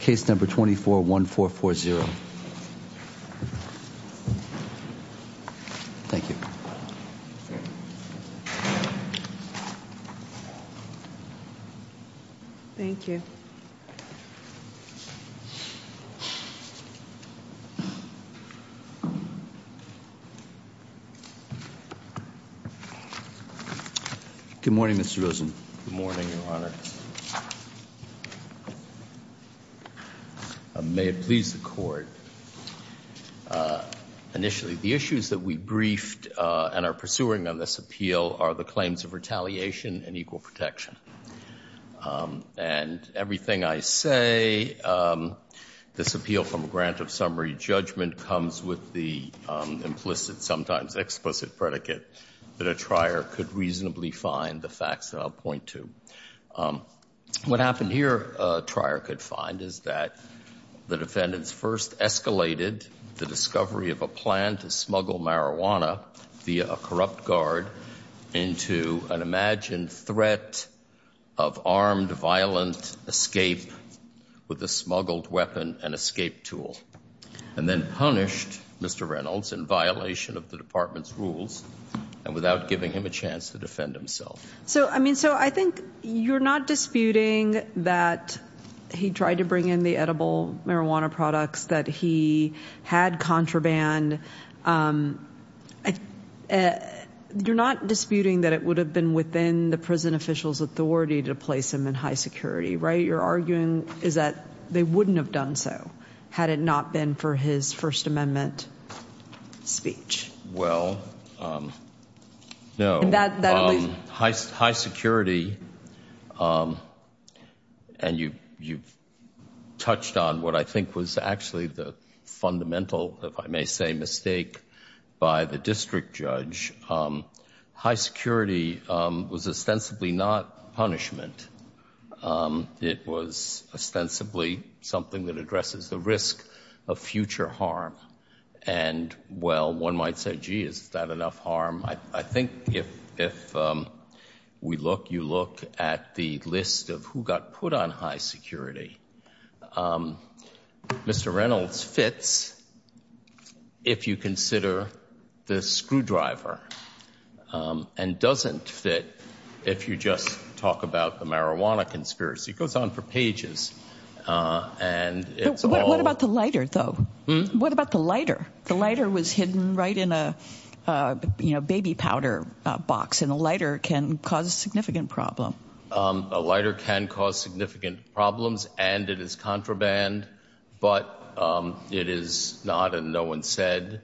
case number 241440. Thank you. Thank you. Good morning, Mr. Rosen. Good morning, Your Honor. May it please the Court. Initially, the issues that we briefed and are pursuing on this appeal are the claims of retaliation and equal protection. And everything I say, this appeal from a grant of summary judgment, comes with the implicit, sometimes explicit, predicate that a trier could reasonably find the facts that I'll point to. What happened here, a trier could find, is that the defendants first escalated the discovery of a plan to smuggle marijuana via a corrupt guard into an imagined threat of armed, violent escape with a smuggled weapon and escape tool, and then punished Mr. Reynolds in violation of the department's rules and without giving him a chance to defend himself. So, I mean, so I think you're not disputing that he tried to bring in the edible marijuana products, that he had contraband. You're not disputing that it would have been within the prison official's authority to place him in high security, right? You're arguing is that they wouldn't have done so had it not been for his First Amendment speech. Well, no, high security, and you've touched on what I think was actually the fundamental, if I may say, mistake by the district judge, high security was ostensibly not punishment. It was ostensibly something that addresses the risk of future harm. And, well, one might say, gee, is that enough harm? I think if we look, you look at the list of who got put on high security. Mr. Reynolds fits if you consider the screwdriver and doesn't fit if you just talk about the marijuana conspiracy. It goes on for pages. And it's all. What about the lighter, though? What about the lighter? The lighter was hidden right in a baby powder box, and a lighter can cause significant problem. A lighter can cause significant problems and it is contraband, but it is not and no one said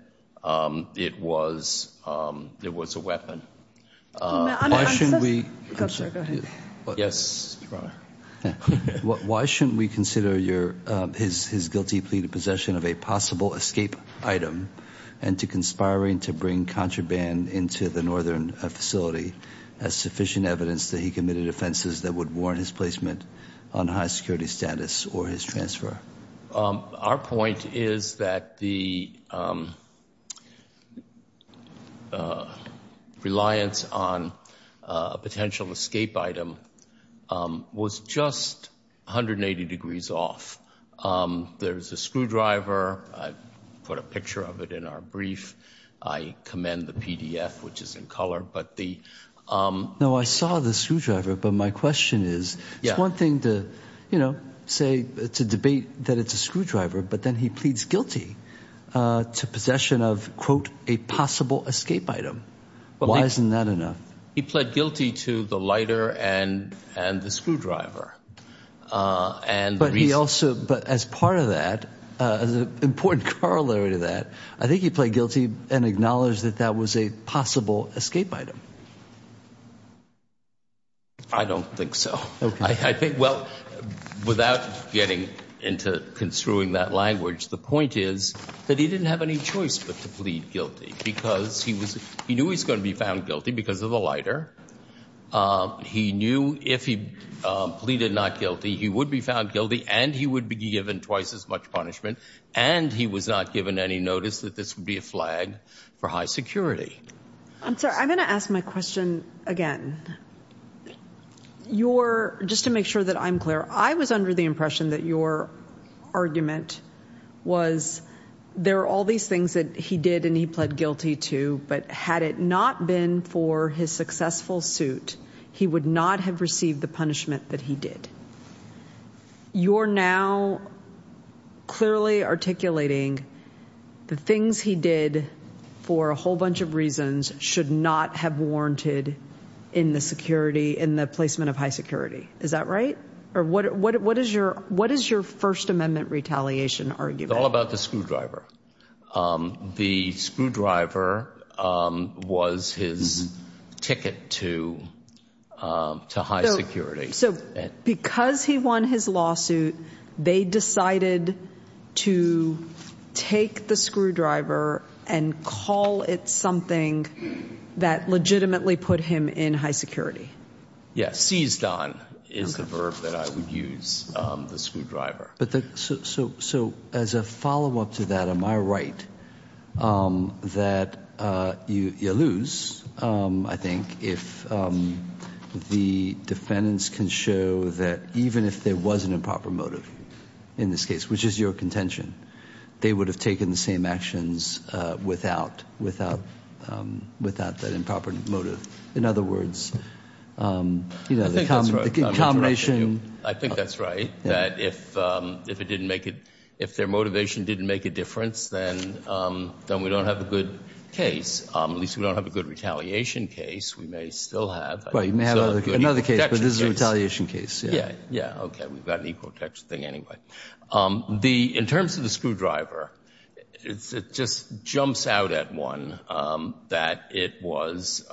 it was. It was a weapon. Why shouldn't we consider your his guilty plea to possession of a possible escape item and to conspiring to bring contraband into the northern facility as sufficient evidence that he committed offenses that would warrant his placement on high security status or his transfer? Our point is that the reliance on a potential escape item was just 180 degrees off. There's a screwdriver. I put a picture of it in our brief. I commend the PDF, which is in color, but the No, I saw the screwdriver, but my question is, it's one thing to, you know, say it's a debate that it's a screwdriver, but then he pleads guilty to possession of, quote, a possible escape item. Why isn't that enough? He pled guilty to the lighter and the screwdriver. But he also, as part of that, as an important corollary to that, I think he pled guilty and acknowledged that that was a possible escape item. I don't think so. I think, well, without getting into construing that language, the point is that he didn't have any choice but to plead guilty because he was he knew he's going to be found guilty because of the lighter. He knew if he pleaded not guilty, he would be found guilty and he would be given twice as much punishment. And he was not given any notice that this would be a flag for high security. I'm sorry. I'm going to ask my question again. You're just to make sure that I'm clear. I was under the impression that your argument was there are all these things that he did and he pled guilty to. But had it not been for his successful suit, he would not have received the punishment that he did. You're now clearly articulating the things he did for a whole bunch of reasons should not have warranted in the security in the placement of high security. Is that right? Or what what what is your what is your First Amendment retaliation? Are you all about the screwdriver? The screwdriver was his ticket to to high security. So because he won his lawsuit, they decided to take the screwdriver and call it something that legitimately put him in high security. Yes, seized on is the verb that I would use the screwdriver. But so so as a follow up to that, am I right that you lose? I think if the defendants can show that even if there was an improper motive in this case, which is your contention, they would have taken the same actions without without without that improper motive. In other words, you know, the combination. I think that's right. That if if it didn't make it, if their motivation didn't make a difference, then then we don't have a good case. At least we don't have a good retaliation case. We may still have another case, but this is a retaliation case. Yeah. Yeah. OK. We've got an equal protection thing anyway. The in terms of the screwdriver, it's it just jumps out at one that it was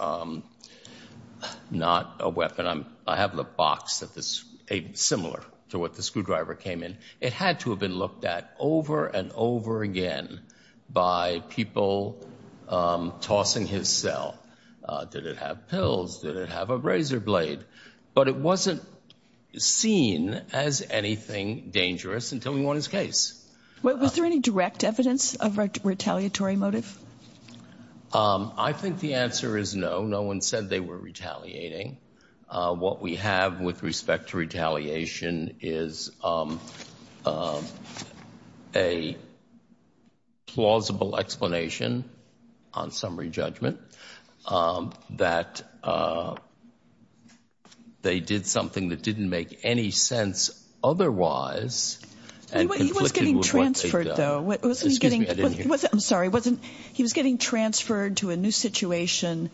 not a weapon. I'm I have the box that this a similar to what the screwdriver came in. It had to have been looked at over and over again by people tossing his cell. Did it have pills? Did it have a razor blade? But it wasn't seen as anything dangerous until we won his case. Was there any direct evidence of retaliatory motive? I think the answer is no. No one said they were retaliating. What we have with respect to retaliation is a plausible explanation on summary judgment that they did something that didn't make any sense otherwise. He was getting transferred to a new situation.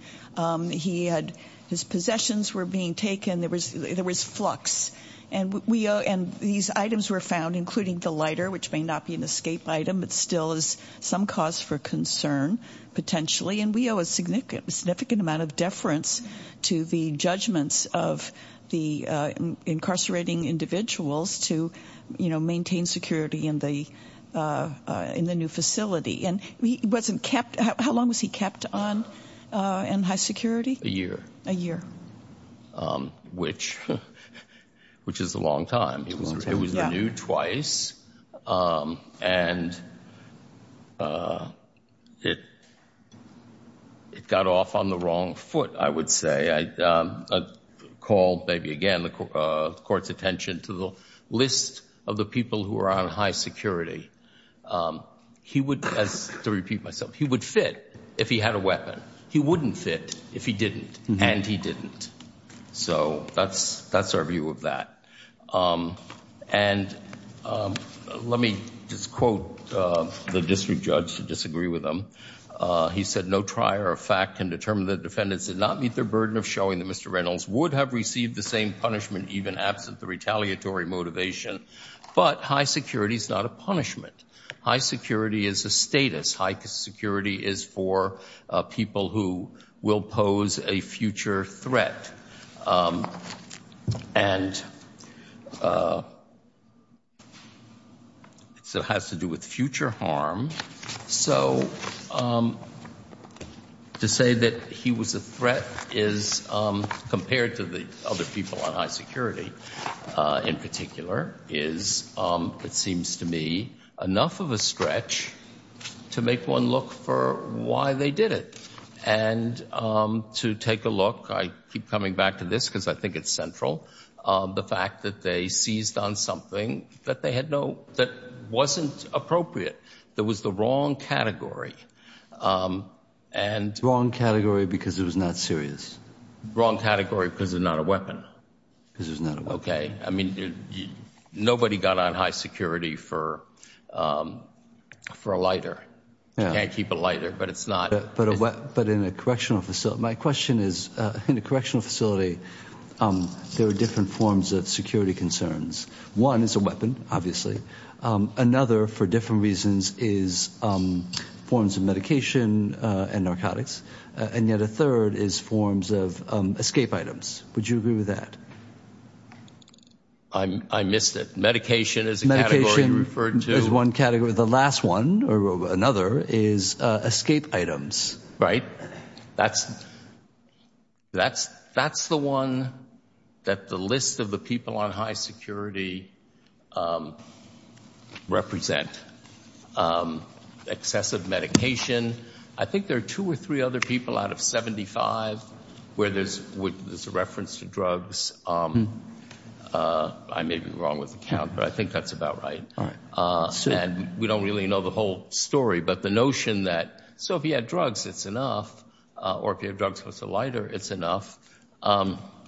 He had his possessions were being taken. There was there was flux and we and these items were found, including the lighter, which may not be an escape item, but still is some cause for concern potentially. And we owe a significant, significant amount of deference to the judgments of the incarcerating individuals to maintain security in the in the new facility. And he wasn't kept. How long was he kept on in high security? A year, a year, which which is a long time. It was renewed twice and it it got off on the wrong foot. I would say I call maybe again the court's attention to the list of the people who are on high security. He would, as to repeat myself, he would fit if he had a weapon. He wouldn't fit if he didn't. And he didn't. So that's that's our view of that. And let me just quote the district judge to disagree with him. He said no trier of fact can determine the defendants did not meet their burden of showing that Mr. Reynolds would have received the same punishment, even absent the retaliatory motivation. But high security is not a punishment. High security is a status. High security is for people who will pose a future threat. And. So it has to do with future harm. So to say that he was a threat is compared to the other people on high security in particular is, it seems to me, enough of a stretch to make one look for why they did it. And to take a look, I keep coming back to this because I think it's central. The fact that they seized on something that they had no that wasn't appropriate. There was the wrong category and wrong category because it was not serious, wrong category because it's not a weapon. This is not OK. I mean, nobody got on high security for for a lighter. You can't keep a lighter, but it's not. But but in a correctional facility, my question is in a correctional facility. There are different forms of security concerns. One is a weapon, obviously. Another, for different reasons, is forms of medication and narcotics. And yet a third is forms of escape items. Would you agree with that? I missed it. Medication is medication referred to as one category. The last one or another is escape items. Right. That's that's that's the one that the list of the people on high security represent. Excessive medication. I think there are two or three other people out of 75 where there's a reference to drugs. I may be wrong with the count, but I think that's about right. And we don't really know the whole story. But the notion that. So if you had drugs, it's enough. Or if you have drugs with a lighter, it's enough.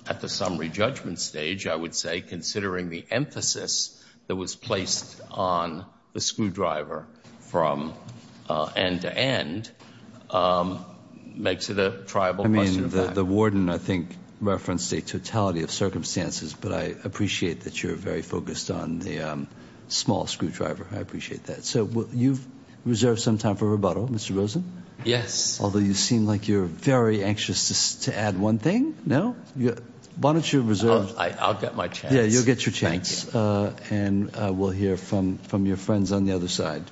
At the summary judgment stage, I would say, considering the emphasis that was placed on the screwdriver from end to end makes it a tribal. I mean, the warden, I think, referenced a totality of circumstances. But I appreciate that you're very focused on the small screwdriver. I appreciate that. So you've reserved some time for rebuttal. Mr. Rosen. Yes. Although you seem like you're very anxious to add one thing. No. Why don't you reserve? I'll get my chance. You'll get your chance. And we'll hear from from your friends on the other side.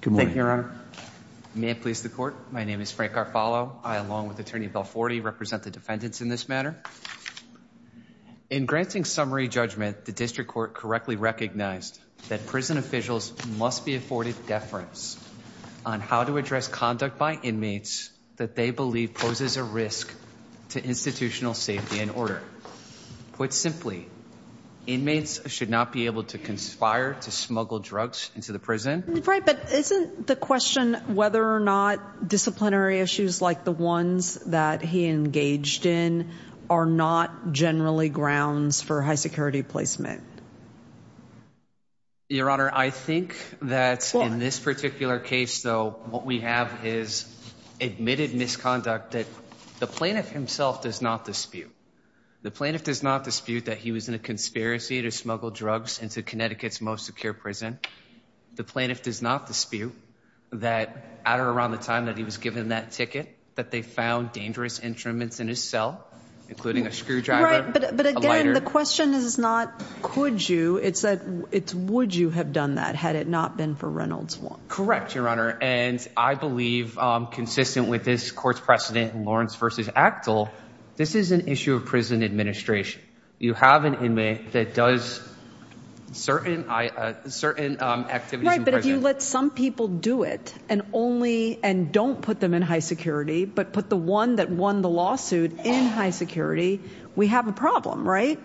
Good morning, Your Honor. May it please the court. My name is Frank Garfalo. I, along with Attorney Bill 40, represent the defendants in this matter. In granting summary judgment, the district court correctly recognized that prison officials must be afforded deference on how to address conduct by inmates that they believe poses a risk to institutional safety and order. Put simply, inmates should not be able to conspire to smuggle drugs into the prison. Right. But isn't the question whether or not disciplinary issues like the ones that he engaged in are not generally grounds for high security placement? Your Honor, I think that in this particular case, though, what we have is admitted misconduct that the plaintiff himself does not dispute. The plaintiff does not dispute that he was in a conspiracy to smuggle drugs into Connecticut's most secure prison. The plaintiff does not dispute that at or around the time that he was given that ticket, that they found dangerous instruments in his cell, including a screwdriver. Right. But again, the question is not could you, it's would you have done that had it not been for Reynolds Wong? Correct, Your Honor. And I believe, consistent with this court's precedent in Lawrence v. Actel, this is an issue of prison administration. You have an inmate that does certain activities in prison. If you let some people do it and only and don't put them in high security, but put the one that won the lawsuit in high security, we have a problem, right?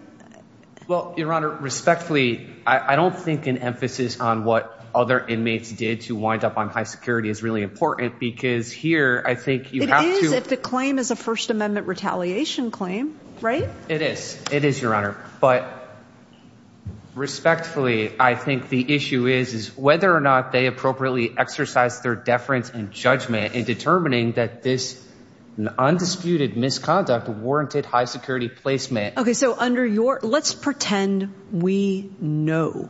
Well, Your Honor, respectfully, I don't think an emphasis on what other inmates did to wind up on high security is really important because here I think you have to. It is if the claim is a First Amendment retaliation claim, right? It is. It is, Your Honor. But respectfully, I think the issue is, is whether or not they appropriately exercise their deference and judgment in determining that this undisputed misconduct warranted high security placement. OK, so under your let's pretend we know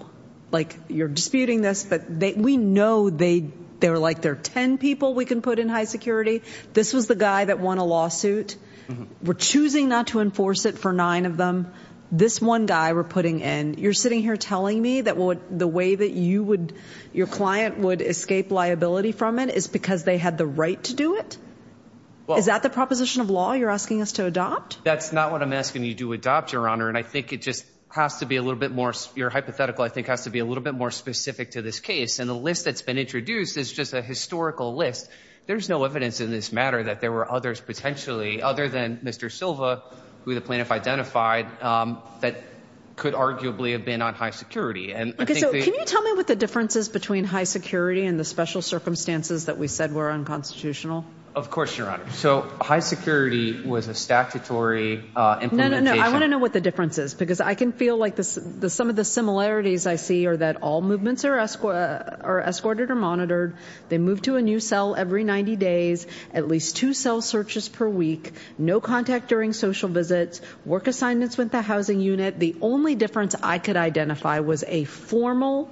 like you're disputing this, but we know they they were like there are 10 people we can put in high security. This was the guy that won a lawsuit. We're choosing not to enforce it for nine of them. This one guy we're putting in. You're sitting here telling me that the way that you would your client would escape liability from it is because they had the right to do it. Well, is that the proposition of law you're asking us to adopt? That's not what I'm asking you to adopt, Your Honor. And I think it just has to be a little bit more. Your hypothetical, I think, has to be a little bit more specific to this case. And the list that's been introduced is just a historical list. There's no evidence in this matter that there were others potentially other than Mr. Silva, who the plaintiff identified that could arguably have been on high security. And can you tell me what the difference is between high security and the special circumstances that we said were unconstitutional? Of course, Your Honor. So high security was a statutory. I want to know what the difference is, because I can feel like some of the similarities I see are that all movements are escorted or monitored. They move to a new cell every 90 days, at least two cell searches per week, no contact during social visits, work assignments with the housing unit. The only difference I could identify was a formal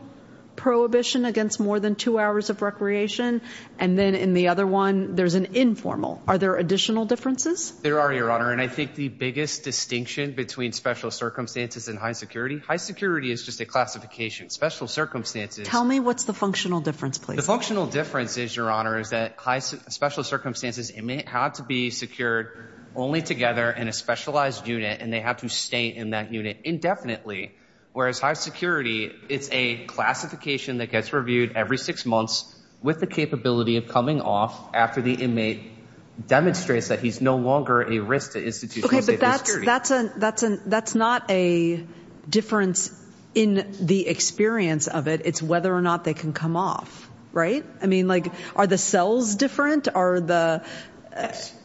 prohibition against more than two hours of recreation. And then in the other one, there's an informal. Are there additional differences? There are, Your Honor, and I think the biggest distinction between special circumstances and high security. High security is just a classification. Special circumstances. Tell me what's the functional difference, please. The functional difference is, Your Honor, is that high special circumstances inmate had to be secured only together in a specialized unit. And they have to stay in that unit indefinitely. Whereas high security, it's a classification that gets reviewed every six months with the capability of coming off after the inmate demonstrates that he's no longer a risk to institutional security. That's not a difference in the experience of it. It's whether or not they can come off. Right. I mean, like, are the cells different? Are the.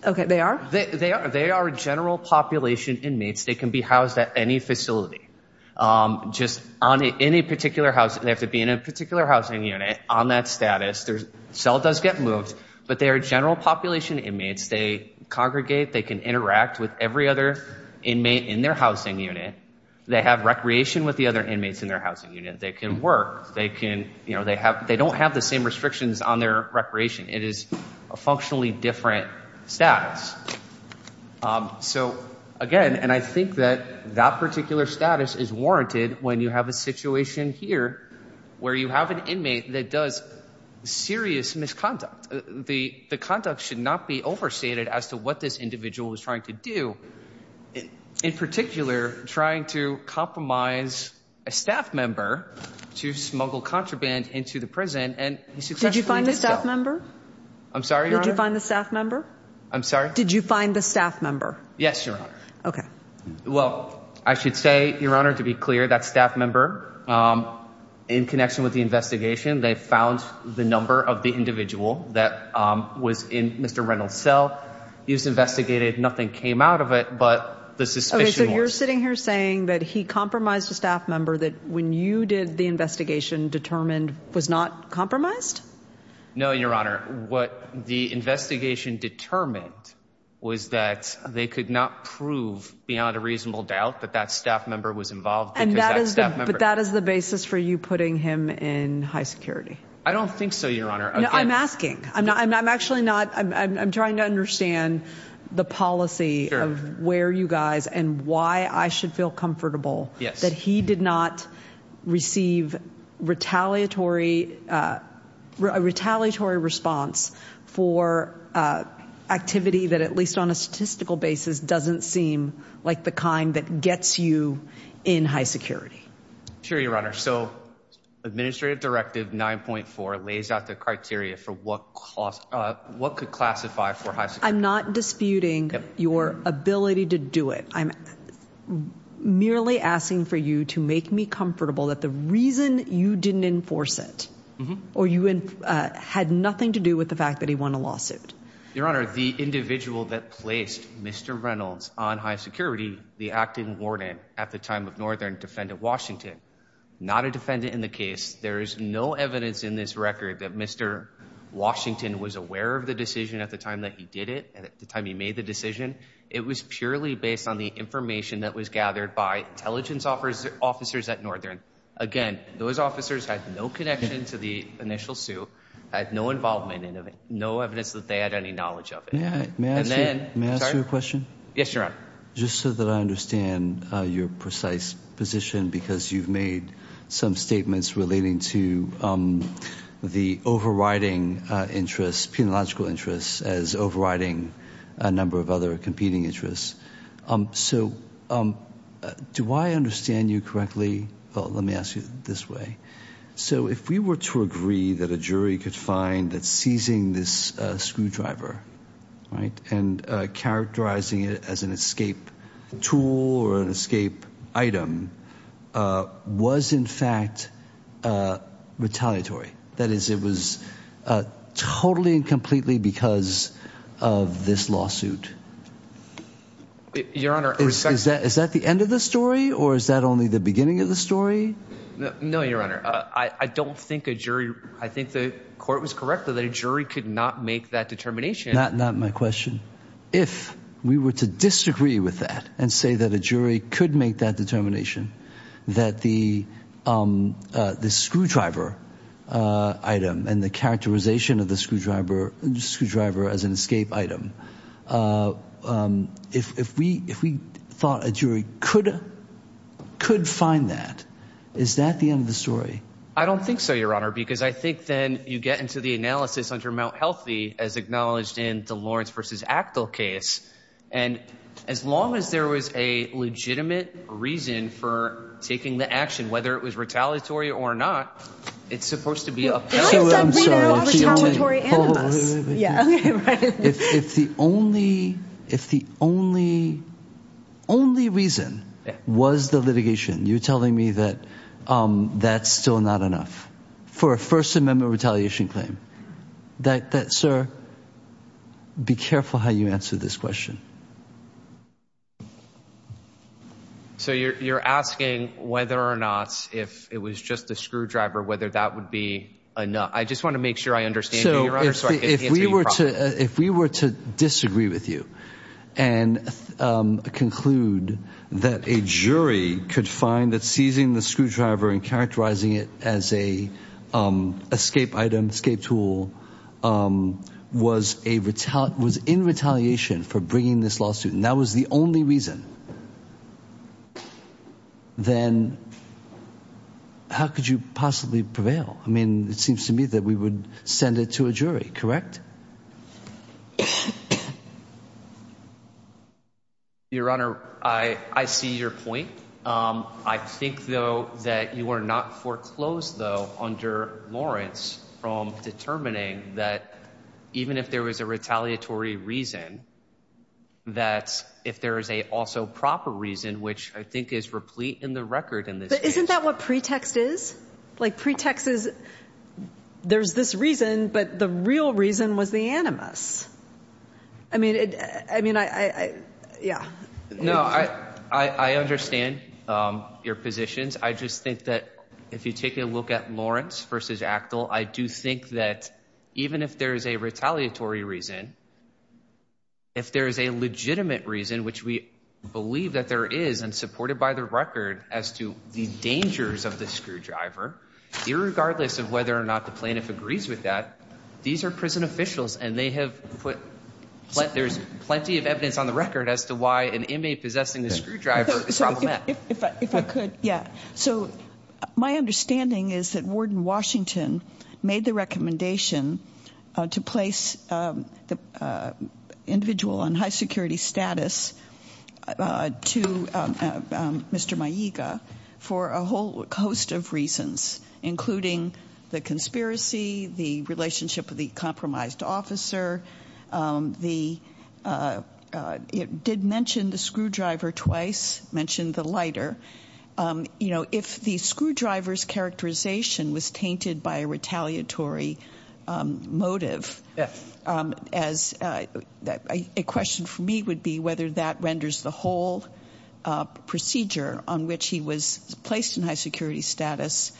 OK, they are. They are. They are a general population inmates. They can be housed at any facility just on any particular house. They have to be in a particular housing unit on that status. Their cell does get moved, but they are general population inmates. They congregate. They can interact with every other inmate in their housing unit. They have recreation with the other inmates in their housing unit. They can work. They can you know, they have they don't have the same restrictions on their recreation. It is a functionally different status. So, again, and I think that that particular status is warranted when you have a situation here where you have an inmate that does serious misconduct. The conduct should not be overstated as to what this individual is trying to do. In particular, trying to compromise a staff member to smuggle contraband into the prison. Did you find the staff member? I'm sorry. Did you find the staff member? I'm sorry. Did you find the staff member? Yes, Your Honor. OK. Well, I should say, Your Honor, to be clear, that staff member, in connection with the investigation, they found the number of the individual that was in Mr. Reynolds' cell. He was investigated. Nothing came out of it. But the suspicion. So you're sitting here saying that he compromised a staff member that when you did the investigation determined was not compromised? No, Your Honor. What the investigation determined was that they could not prove beyond a reasonable doubt that that staff member was involved. And that is that is the basis for you putting him in high security. I don't think so, Your Honor. I'm asking. I'm not. I'm actually not. I'm trying to understand the policy of where you guys and why I should feel comfortable that he did not receive retaliatory retaliatory response for activity that, at least on a statistical basis, doesn't seem like the kind that gets you in high security. Sure, Your Honor. So Administrative Directive 9.4 lays out the criteria for what cost what could classify for high. I'm not disputing your ability to do it. I'm merely asking for you to make me comfortable that the reason you didn't enforce it or you had nothing to do with the fact that he won a lawsuit. Your Honor, the individual that placed Mr. Reynolds on high security, the acting warden at the time of Northern defendant, Washington, not a defendant in the case. There is no evidence in this record that Mr. Washington was aware of the decision at the time that he did it. And at the time he made the decision, it was purely based on the information that was gathered by intelligence offers officers at Northern. Again, those officers had no connection to the initial suit, had no involvement in it, no evidence that they had any knowledge of it. May I ask you a question? Yes, Your Honor. Just so that I understand your precise position, because you've made some statements relating to the overriding interests, as overriding a number of other competing interests. So do I understand you correctly? Let me ask you this way. So if we were to agree that a jury could find that seizing this screwdriver and characterizing it as an escape tool or an escape item was in fact retaliatory. That is, it was totally and completely because of this lawsuit. Your Honor. Is that the end of the story or is that only the beginning of the story? No, Your Honor. I don't think a jury, I think the court was correct that a jury could not make that determination. Not my question. If we were to disagree with that and say that a jury could make that determination, that the screwdriver item and the characterization of the screwdriver as an escape item, if we thought a jury could find that, is that the end of the story? I don't think so, Your Honor, because I think then you get into the analysis under Mt. Healthy as acknowledged in the Lawrence v. Actill case. And as long as there was a legitimate reason for taking the action, whether it was retaliatory or not, it's supposed to be a penalty. I'm sorry. Retaliatory animus. If the only, if the only, only reason was the litigation, you're telling me that that's still an issue? That's still not enough for a First Amendment retaliation claim. That, sir, be careful how you answer this question. So you're asking whether or not if it was just the screwdriver, whether that would be enough. I just want to make sure I understand. If we were to disagree with you and conclude that a jury could find that seizing the screwdriver and characterizing it as a escape item, escape tool, was in retaliation for bringing this lawsuit and that was the only reason, then how could you possibly prevail? I mean, it seems to me that we would send it to a jury, correct? Your Honor, I see your point. I think, though, that you are not foreclosed, though, under Lawrence from determining that even if there was a retaliatory reason, that if there is a also proper reason, which I think is replete in the record in this. Isn't that what pretext is like pretexts? There's this reason, but the real reason was the animus. I mean, I mean, I yeah, no, I, I understand your positions. I just think that if you take a look at Lawrence versus Actel, I do think that even if there is a retaliatory reason, if there is a legitimate reason, which we believe that there is and supported by the record as to the dangers of the screwdriver, irregardless of whether or not the plaintiff agrees with that, these are prison officials and they have put there's plenty of evidence on the record as to why an inmate possessing the screwdriver is problematic. If I could. Yeah. So my understanding is that Warden Washington made the recommendation to place the individual on high security status to Mr. For a whole host of reasons, including the conspiracy, the relationship with the compromised officer, the it did mention the screwdriver twice mentioned the lighter. You know, if the screwdrivers characterization was tainted by a retaliatory motive as a question for me would be whether that renders the whole procedure on which he was placed in high security status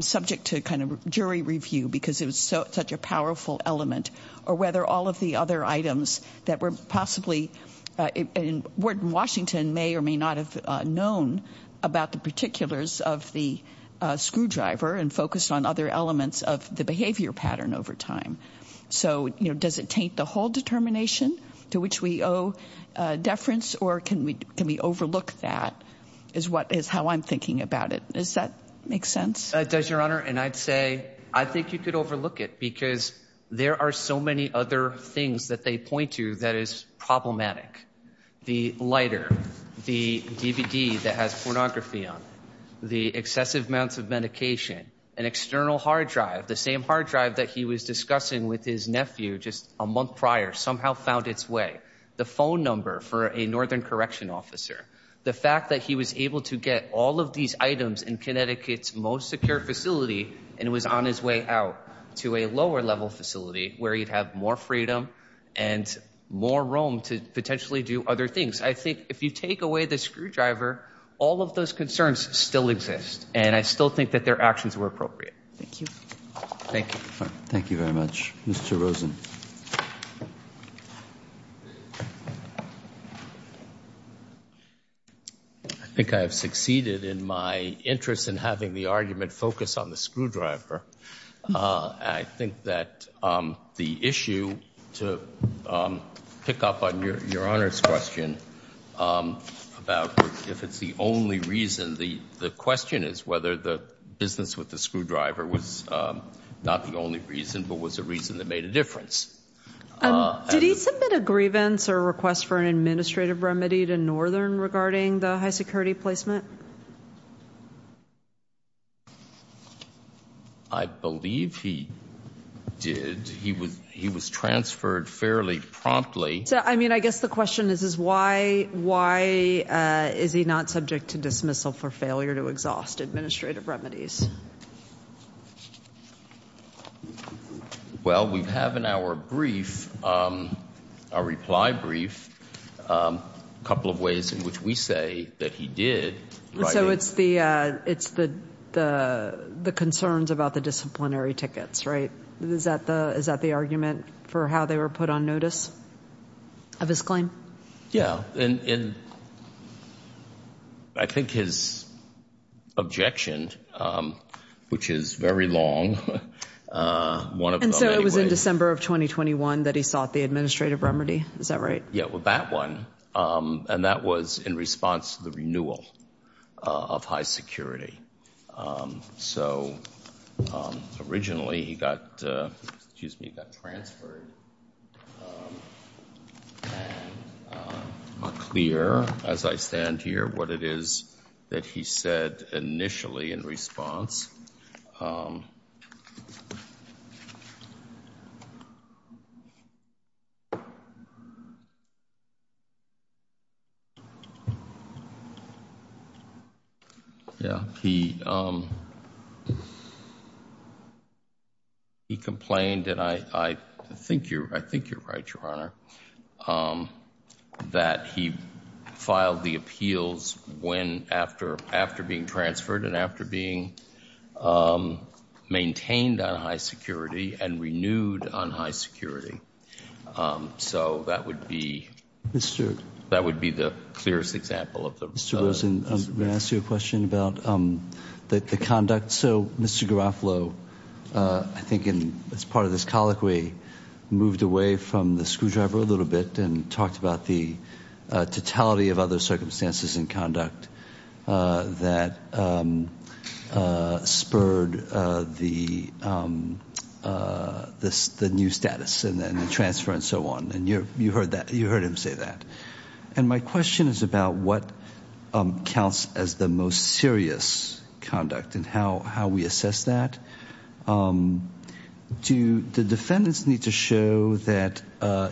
subject to kind of jury review because it was such a powerful element or whether all of the other items that were possibly in Washington may or may not have known. About the particulars of the screwdriver and focus on other elements of the behavior pattern over time. So, you know, does it take the whole determination to which we owe deference or can we can we overlook that is what is how I'm thinking about it. Does your honor. And I'd say I think you could overlook it because there are so many other things that they point to that is problematic. The lighter the DVD that has pornography on the excessive amounts of medication and external hard drive. The same hard drive that he was discussing with his nephew just a month prior somehow found its way. The phone number for a northern correction officer. The fact that he was able to get all of these items in Connecticut's most secure facility and was on his way out to a lower level facility where you'd have more freedom and more room to potentially do other things. I think if you take away the screwdriver, all of those concerns still exist, and I still think that their actions were appropriate. Thank you. Thank you. Thank you very much. Mr. Rosen. I think I have succeeded in my interest in having the argument focus on the screwdriver. I think that the issue to pick up on your honor's question about if it's the only reason the question is whether the business with the screwdriver was not the only reason but was a reason that made a difference. Did he submit a grievance or request for an administrative remedy to northern regarding the high security placement? I believe he did. He was he was transferred fairly promptly. I mean, I guess the question is, is why? Why is he not subject to dismissal for failure to exhaust administrative remedies? Well, we have in our brief, our reply brief, a couple of ways in which we say that he did. So it's the it's the the the concerns about the disciplinary tickets, right? Is that the is that the argument for how they were put on notice of his claim? Yeah. And I think his objection, which is very long. And so it was in December of twenty twenty one that he sought the administrative remedy. Is that right? Yeah. Well, that one. And that was in response to the renewal of high security. So originally he got excuse me, got transferred. And I'm not clear, as I stand here, what it is that he said initially in response. Yeah, he he complained and I think you're I think you're right, Your Honor, that he filed the appeals when after after being transferred and after being. Maintained on high security and renewed on high security. So that would be Mr. That would be the clearest example of the students and ask you a question about the conduct. So, Mr. Garofalo, I think it's part of this colloquy moved away from the screwdriver a little bit and talked about the totality of other circumstances and conduct that spurred the this the new status and then the transfer and so on. And you're you heard that you heard him say that. And my question is about what counts as the most serious conduct and how how we assess that. Do the defendants need to show that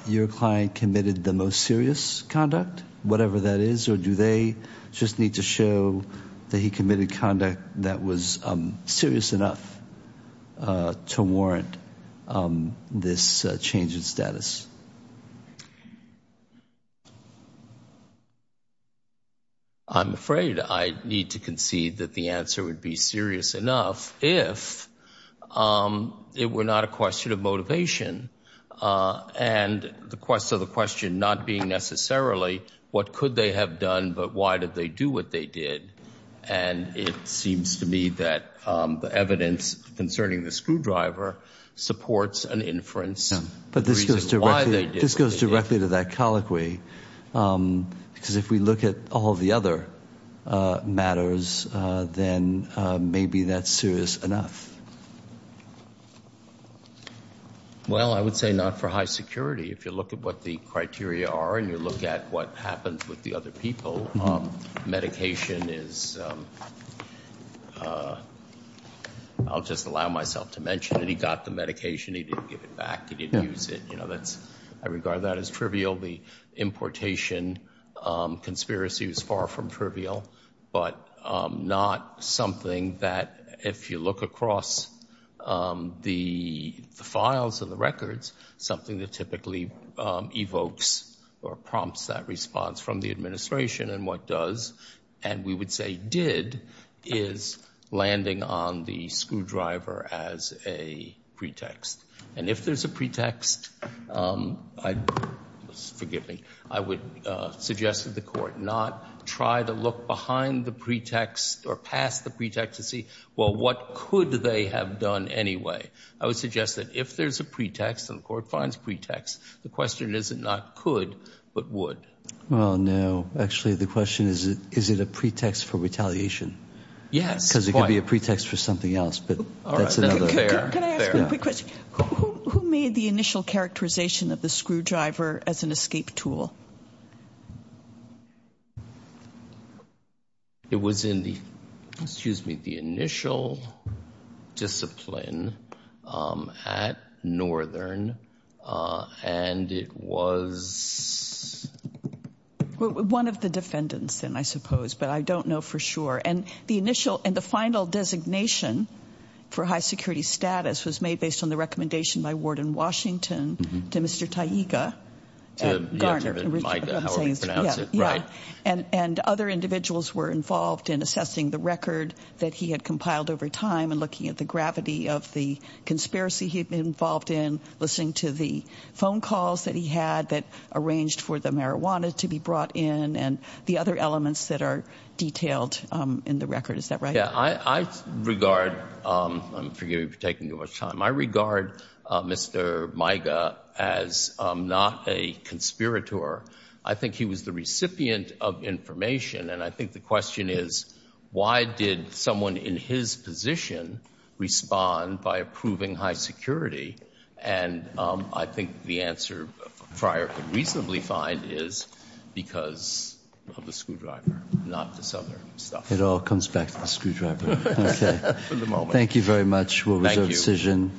your client committed the most serious conduct, whatever that is, or do they just need to show that he committed conduct that was serious enough to warrant this change in status? I'm afraid I need to concede that the answer would be serious enough if it were not a question of motivation and the quest of the question not being necessarily what could they have done, but why did they do what they did? And it seems to me that the evidence concerning the screwdriver supports an inference. But this goes directly. This goes directly to that colloquy, because if we look at all the other matters, then maybe that's serious enough. Well, I would say not for high security. If you look at what the criteria are and you look at what happens with the other people, medication is I'll just allow myself to mention that he got the medication. He didn't give it back. He didn't use it. You know, that's I regard that as trivial. The importation conspiracy was far from trivial, but not something that if you look across the files of the records, something that typically evokes or prompts that response from the administration and what does and we would say did is landing on the screwdriver as a pretext. And if there's a pretext, I forgive me. I would suggest that the court not try to look behind the pretext or past the pretext to see, well, what could they have done anyway? I would suggest that if there's a pretext and the court finds pretext, the question isn't not could, but would. Well, no. Actually, the question is, is it a pretext for retaliation? Yes. Because it could be a pretext for something else. But that's another. Can I ask a quick question? Who made the initial characterization of the screwdriver as an escape tool? It was in the excuse me, the initial discipline at Northern and it was. One of the defendants then, I suppose, but I don't know for sure. And the initial and the final designation for high security status was made based on the recommendation by Warden Washington to Mr. Taiga. And other individuals were involved in assessing the record that he had compiled over time and looking at the gravity of the conspiracy he'd been involved in, listening to the phone calls that he had that arranged for the marijuana to be brought in and the other elements that are detailed in the record. Is that right? Yeah, I regard, forgive me for taking too much time, I regard Mr. Taiga as not a conspirator. I think he was the recipient of information. And I think the question is, why did someone in his position respond by approving high security? And I think the answer Friar could reasonably find is because of the screwdriver, not this other stuff. It all comes back to the screwdriver. Thank you very much. Thank you.